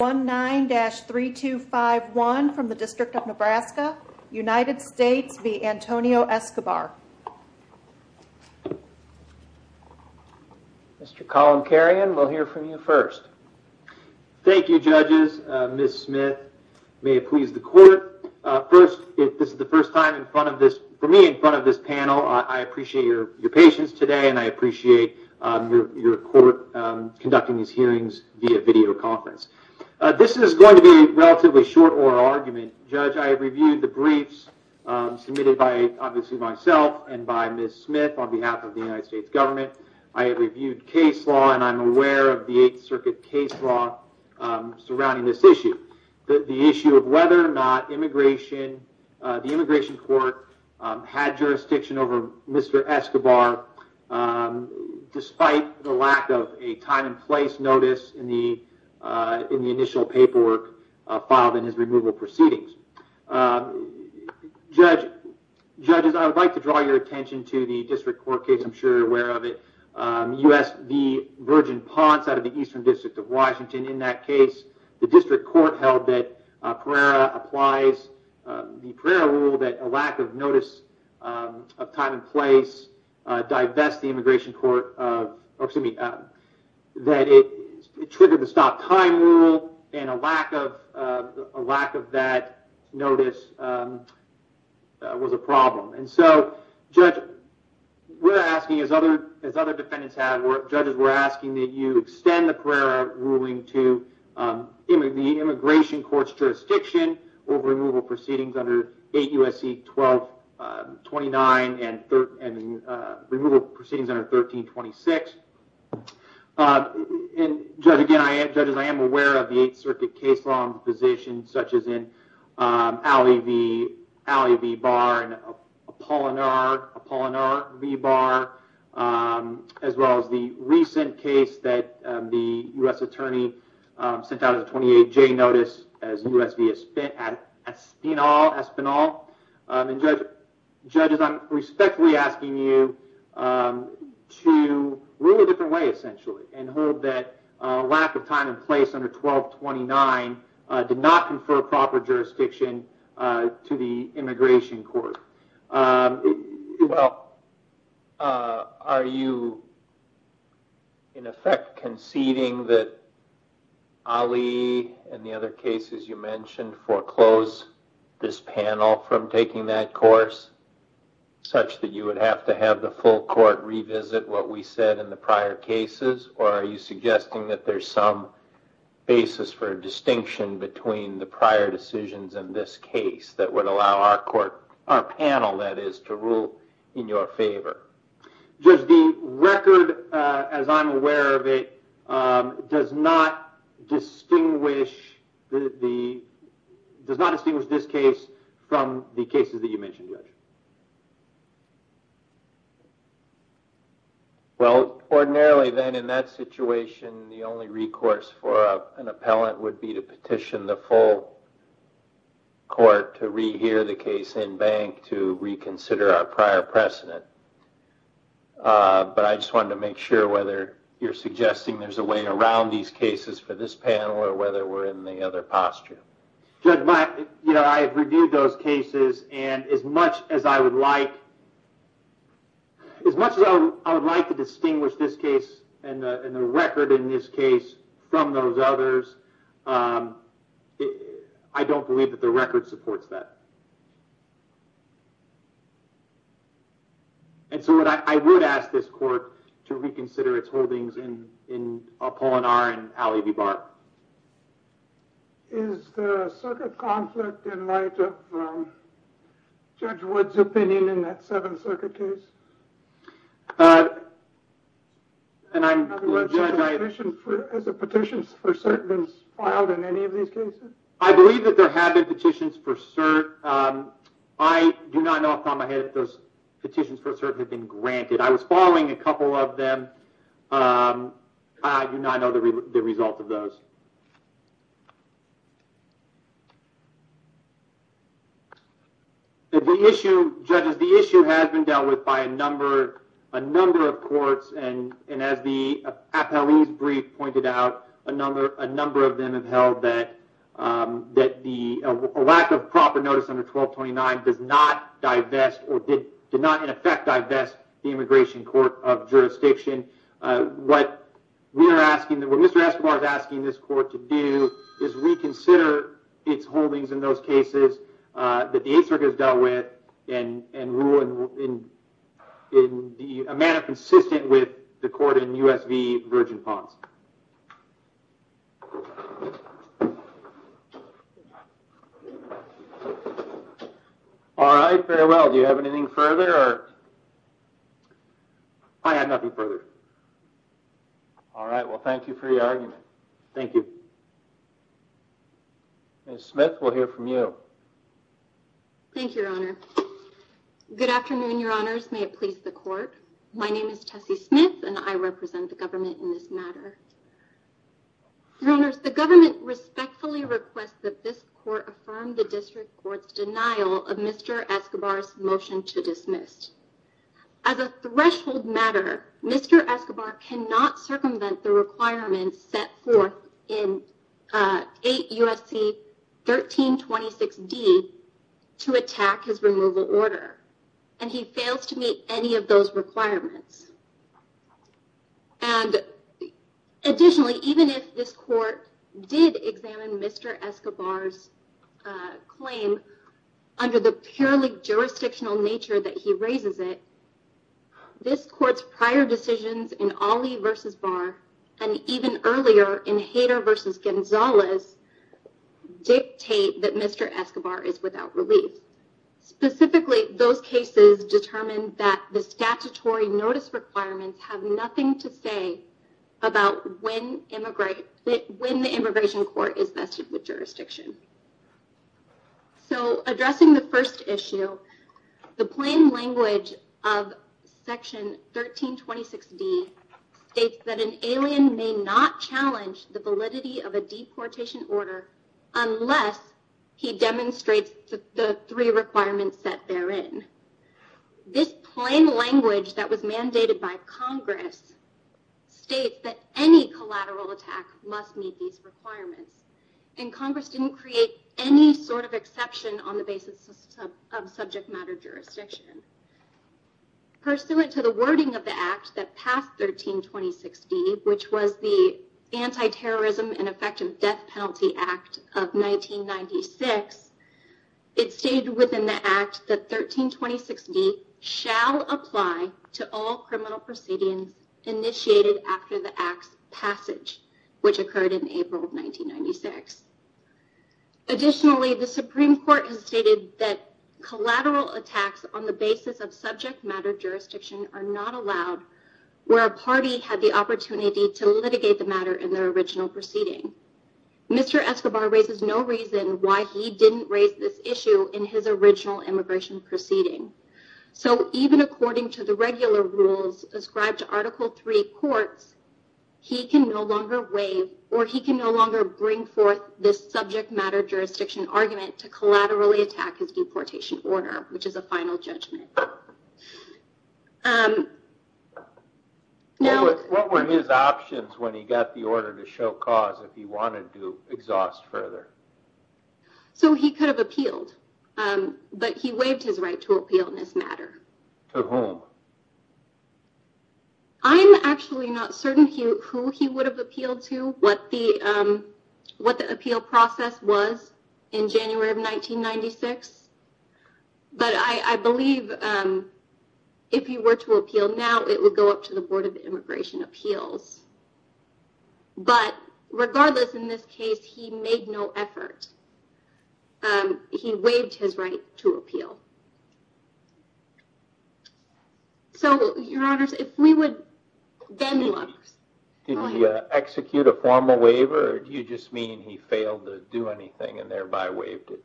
19-3251 from the District of Nebraska, United States v. Antonio Escobar. Mr. Collin Karian, we'll hear from you first. Thank you judges. Ms. Smith, may it please the court. First, if this is the first time in front of this, for me in front of this panel, I appreciate your patience today and I appreciate your court conducting these hearings via video conference. This is going to be a relatively short oral argument. Judge, I have reviewed the briefs submitted by obviously myself and by Ms. Smith on behalf of the United States government. I have reviewed case law and I'm aware of the Eighth Circuit case law surrounding this issue. The issue of whether or not the immigration court had jurisdiction over Mr. Escobar um despite the lack of a time and place notice in the initial paperwork filed in his removal proceedings. Judge, judges, I would like to draw your attention to the district court case. I'm sure you're aware of it. U.S. v. Virgin Ponce out of the Eastern District of Washington. In that case, the district court held that Pereira applies the Pereira rule that a lack of notice of time and divest the immigration court, excuse me, that it triggered the stop time rule and a lack of that notice was a problem. And so, judge, we're asking as other defendants have, judges, we're asking that you extend the Pereira ruling to the immigration court's jurisdiction over removal proceedings under 8 U.S.C. 1229 and removal proceedings under 1326. And judge, again, judges, I am aware of the Eighth Circuit case law in positions such as in Alley v. Barr and Apolinar v. Barr as well as the recent case that the U.S. attorney sent out as a 28-J notice as U.S. v. Espinal. And judges, I'm respectfully asking you to rule a different way essentially and hold that a lack of time and place under 1229 did not confer proper jurisdiction to the immigration court. Well, are you in effect conceding that Alley and the other cases you mentioned foreclose this panel from taking that course such that you would have to have the full court revisit what we said in the prior cases? Or are you suggesting that there's some basis for distinction between the prior decisions in this case that would allow our panel, that is, to rule in your favor? Judge, the record, as I'm aware of it, does not distinguish this case from the cases that you mentioned, Judge. Well, ordinarily then in that situation, the only recourse for an appellant would be to petition the court. But I just wanted to make sure whether you're suggesting there's a way around these cases for this panel or whether we're in the other posture. Judge, I've reviewed those cases and as much as I would like to distinguish this case and the record in this case from those others, I don't believe that the record supports that. And so what I would ask this court to reconsider its holdings in Apollonar and Alley v. Barr. Is the circuit conflict in light of Judge Wood's opinion in that Seventh Circuit case? And I'm... Judge, has a petition for cert been filed in any of these cases? I believe that there have been petitions for cert. I do not know off the top of my head if those petitions for cert have been granted. I was following a couple of them. I do not know the result of those. The issue, Judges, the issue has been dealt with by a number of courts and as Appellee's brief pointed out, a number of them have held that a lack of proper notice under 1229 does not divest or did not in effect divest the Immigration Court of Jurisdiction. What we are asking, what Mr. Escobar is asking this court to do is reconsider its holdings in those Virgin Ponds. All right. Very well. Do you have anything further? I have nothing further. All right. Well, thank you for your argument. Thank you. Ms. Smith, we'll hear from you. Thank you, Your Honor. Good afternoon, Your Honors. May it please the court. My name is Tessie Smith and I represent the government in this matter. Your Honors, the government respectfully requests that this court affirm the District Court's denial of Mr. Escobar's motion to dismiss. As a threshold matter, Mr. Escobar cannot circumvent the requirements set forth in 8 U.S.C. 1326d to attack his removal order and he fails to meet any of those requirements. And additionally, even if this court did examine Mr. Escobar's claim under the purely jurisdictional nature that he raises it, this court's prior decisions in Ali v. Barr and even earlier in Hader v. Gonzalez dictate that Mr. Escobar is without relief. Specifically, those cases determine that the statutory notice requirements have nothing to say about when the immigration court is vested with jurisdiction. So addressing the first issue, the plain language of section 1326d states that an alien may not challenge the validity of a deportation order unless he demonstrates the three requirements set therein. This plain language that was mandated by Congress states that any collateral attack must meet these requirements and Congress didn't create any sort of exception on the basis of subject matter jurisdiction. Pursuant to the wording of the act that passed 1326d, which was the anti-terrorism and effective death penalty act of 1996, it stated within the act that 1326d shall apply to all criminal proceedings initiated after the act's passage, which occurred in April of 1996. Additionally, the Supreme Court has stated that collateral attacks on the basis of subject matter jurisdiction are not allowed where a party had the opportunity to litigate the matter in their original proceeding. Mr. Escobar raises no reason why he didn't raise this issue in his original immigration proceeding. So even according to the regular rules ascribed to Article III courts, he can no longer waive or he can no longer bring forth this subject matter jurisdiction argument to collaterally attack his deportation order, which is a final judgment. What were his options when he got the order to show cause if he wanted to exhaust further? So he could have appealed, but he waived his right to appeal in this matter. To whom? I'm actually not certain who he would have appealed to, what the appeal process was in January of 1996. But I believe if he were to appeal now, it would go up to the Board of Immigration Appeals. But regardless, in this case, he made no effort. He waived his right to appeal. So, Your Honors, if we would then look. Did he execute a formal waiver or do you just mean he failed to do anything and thereby waived it?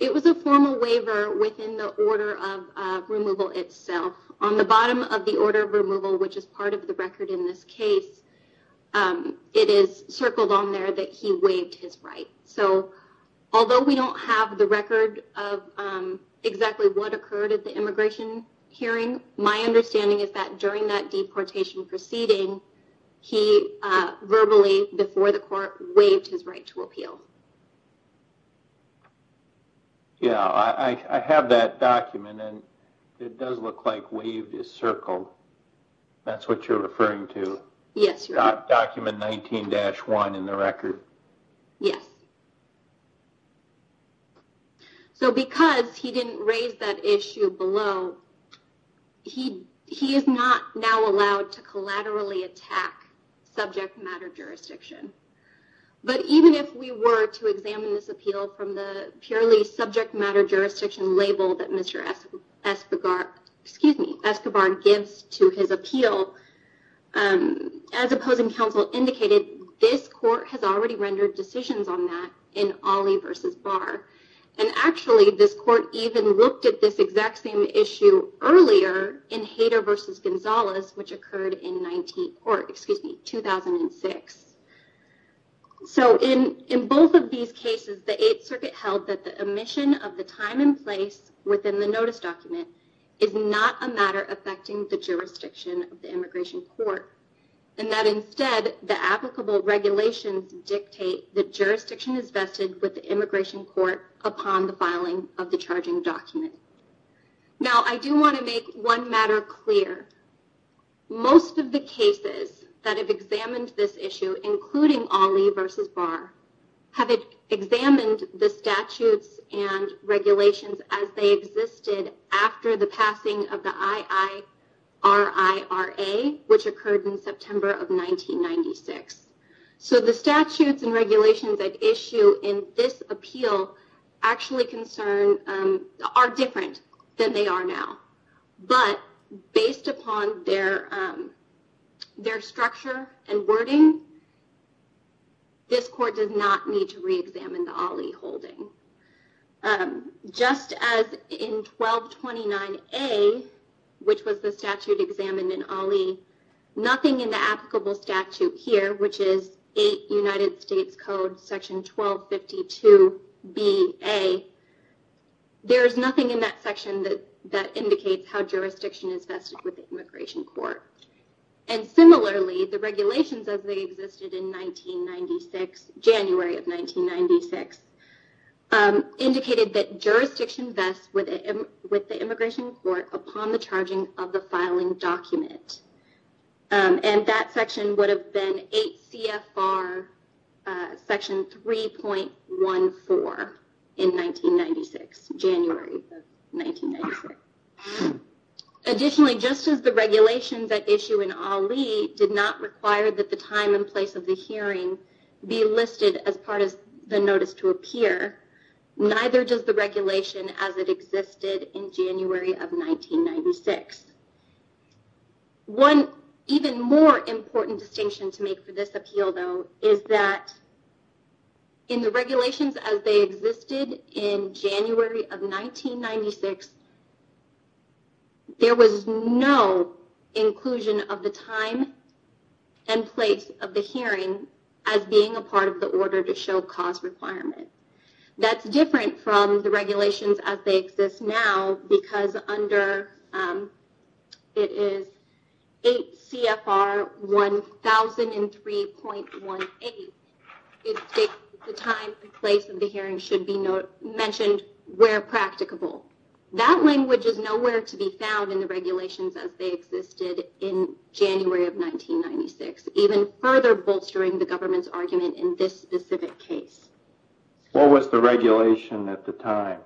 It was a formal waiver within the order of removal itself. On the bottom of the order of removal, which is part of the record in this case, it is circled on there that he waived his right. So although we don't have the record of exactly what occurred at the immigration hearing, my understanding is that during that deportation proceeding, he verbally, before the court, waived his right to appeal. Yeah, I have that document and it does look like waived is circled. That's what you're referring to? Yes, Your Honor. Document 19-1 in the record? Yes. So because he didn't raise that issue below, he is not now allowed to collaterally attack subject matter jurisdiction. But even if we were to examine this appeal from the purely subject matter jurisdiction label that Mr. Escobar gives to his appeal, as opposing counsel indicated, this court has already rendered decisions on that in Alley v. Barr. And actually, this court even looked at this exact same issue earlier in Hayter v. Gonzalez, which occurred in 2006. So in both of these cases, the Eighth Circuit held that the omission of the time and place within the notice document is not a matter affecting the jurisdiction of the immigration court, and that instead, the applicable regulations dictate that jurisdiction is vested with the immigration court upon the filing of the charging document. Now, I do want to make one matter clear. Most of the cases that have examined this issue, including Alley v. Barr, have examined the statutes and regulations as they existed after the passing of the IIRIRA, which occurred in September of 1996. So the statutes and regulations at issue in this appeal are different than they are now. But based upon their structure and wording, this court does not need to reexamine the Alley holding. Just as in 1229A, which was the statute examined in Alley, nothing in the applicable statute here, which is 8 United States Code section 1252 B.A., there is nothing in that section that indicates how jurisdiction is vested with the immigration court. And similarly, the regulations as they existed in 1996, January of 1996, indicated that jurisdiction vests with the immigration court upon the charging of the filing document. And that section would have been 8 CFR section 3.14 in 1996, January of 1996. Additionally, just as the regulations at time and place of the hearing be listed as part of the notice to appear, neither does the regulation as it existed in January of 1996. One even more important distinction to make for this appeal, though, is that in the regulations as they existed in January of 1996, there was no inclusion of the time and place of the hearing as being a part of the order to show cause requirement. That's different from the regulations as they exist now, because under it is 8 CFR 1003.18, it states the time and place of the hearing should be mentioned where practicable. That language is nowhere to be found in the regulations as they existed in January of 1996, even further bolstering the government's argument in this specific case. What was the regulation at the time?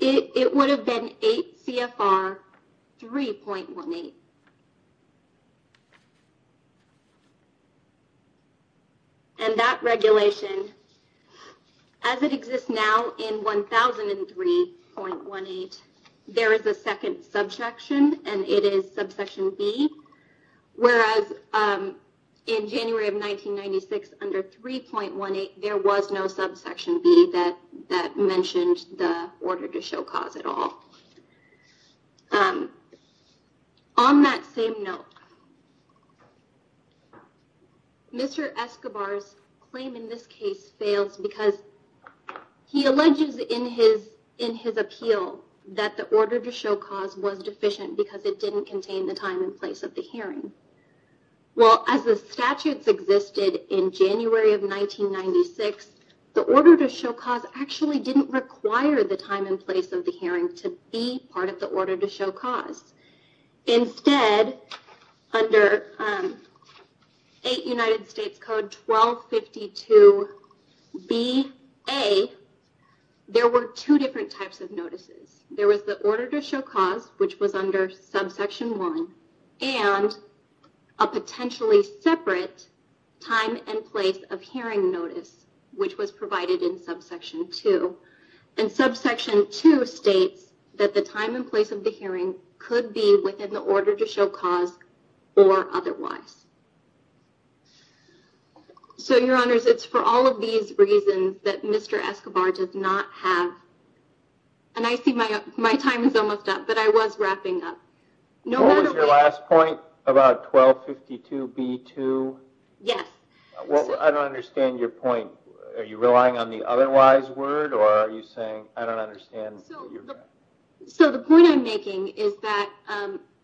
It would have been 8 CFR 3.18. And that regulation as it exists now in 1003.18, there is a second subsection and it is subsection B, whereas in January of 1996, under 3.18, there was no subsection B that mentioned the order to show cause at all. On that same note, Mr. Escobar's claim in this case fails because he alleges in his appeal that the order to show cause was deficient because it didn't contain the time and place of the hearing. Well, as the statutes existed in January of 1996, the order to show cause actually didn't require the time and place of the hearing to be part of the order to show cause. Instead, under 8 U.S. Code 1252 B.A., there were two different types of notices. There was the order to show cause, which was under subsection 1, and a potentially separate time and place of hearing notice, which was provided in subsection 2. And subsection 2 states that the time and place of order to show cause or otherwise. So, your honors, it's for all of these reasons that Mr. Escobar does not have, and I see my time is almost up, but I was wrapping up. What was your last point about 1252 B.2? Yes. Well, I don't understand your point. Are you relying on the otherwise word, or are you saying, I don't understand? So, the point I'm making is that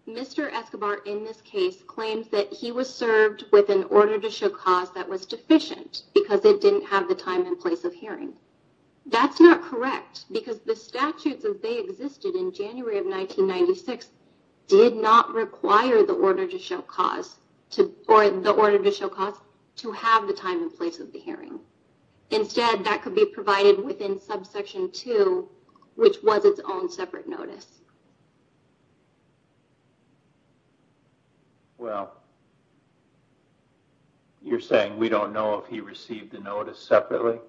Mr. Escobar, in this case, claims that he was served with an order to show cause that was deficient because it didn't have the time and place of hearing. That's not correct because the statutes as they existed in January of 1996 did not require the order to show cause to, or the order to show cause to have the time and place of the hearing. Instead, that could be provided within subsection 2, which was its own separate notice. Well, you're saying we don't know if he received the notice separately?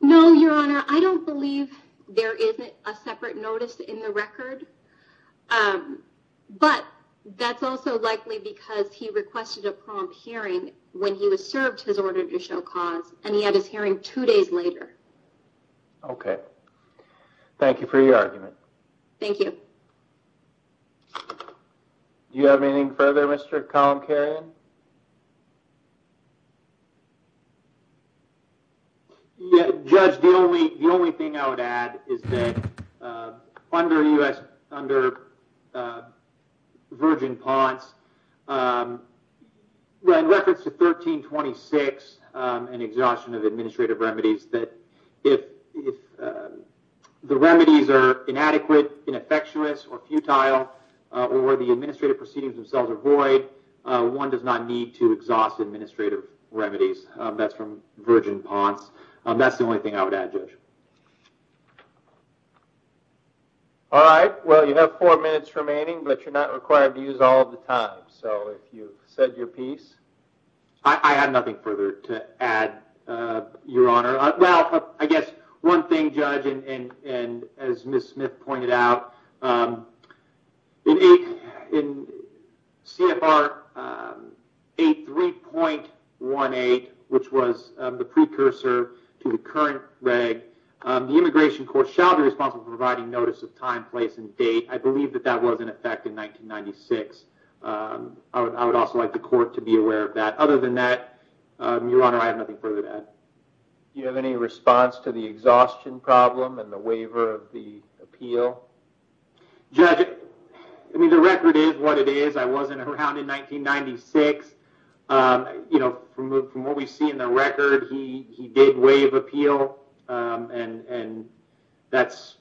No, your honor. I don't believe there isn't a separate notice in the record, but that's also likely because he requested a prompt hearing when he was served his order to show cause, and he had his hearing two days later. Okay. Thank you for your argument. Thank you. Do you have anything further, Mr. Calamkarian? Judge, the only thing I would add is that under the U.S., under Virgin Ponce, in reference to 1326, an exhaustion of administrative remedies, that if the remedies are inadequate, ineffectuous, or futile, or the administrative proceedings are void, one does not need to exhaust administrative remedies. That's from Virgin Ponce. That's the only thing I would add, Judge. All right. Well, you have four minutes remaining, but you're not required to use all of the time. So, if you said your piece. I have nothing further to add, your honor. Well, I guess one thing, Judge, and as Ms. Smith pointed out, in CFR 83.18, which was the precursor to the current reg, the immigration court shall be responsible for providing notice of time, place, and date. I believe that that was in effect in 1996. I would also like the court to be aware of that. Other than that, your honor, I have nothing further to add. Do you have any response to the exhaustion problem and the waiver of the appeal? Judge, I mean, the record is what it is. I wasn't around in 1996. You know, from what we see in the record, he did waive appeal, and that's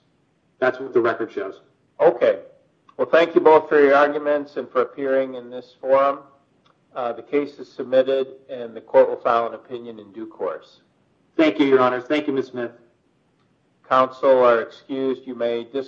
what the record shows. Okay. Well, thank you both for your arguments and for appearing in this forum. The case is submitted, and the court will file an opinion in due course. Thank you, your honor. Thank you, Ms. Smith. Counsel are excused. Thank you.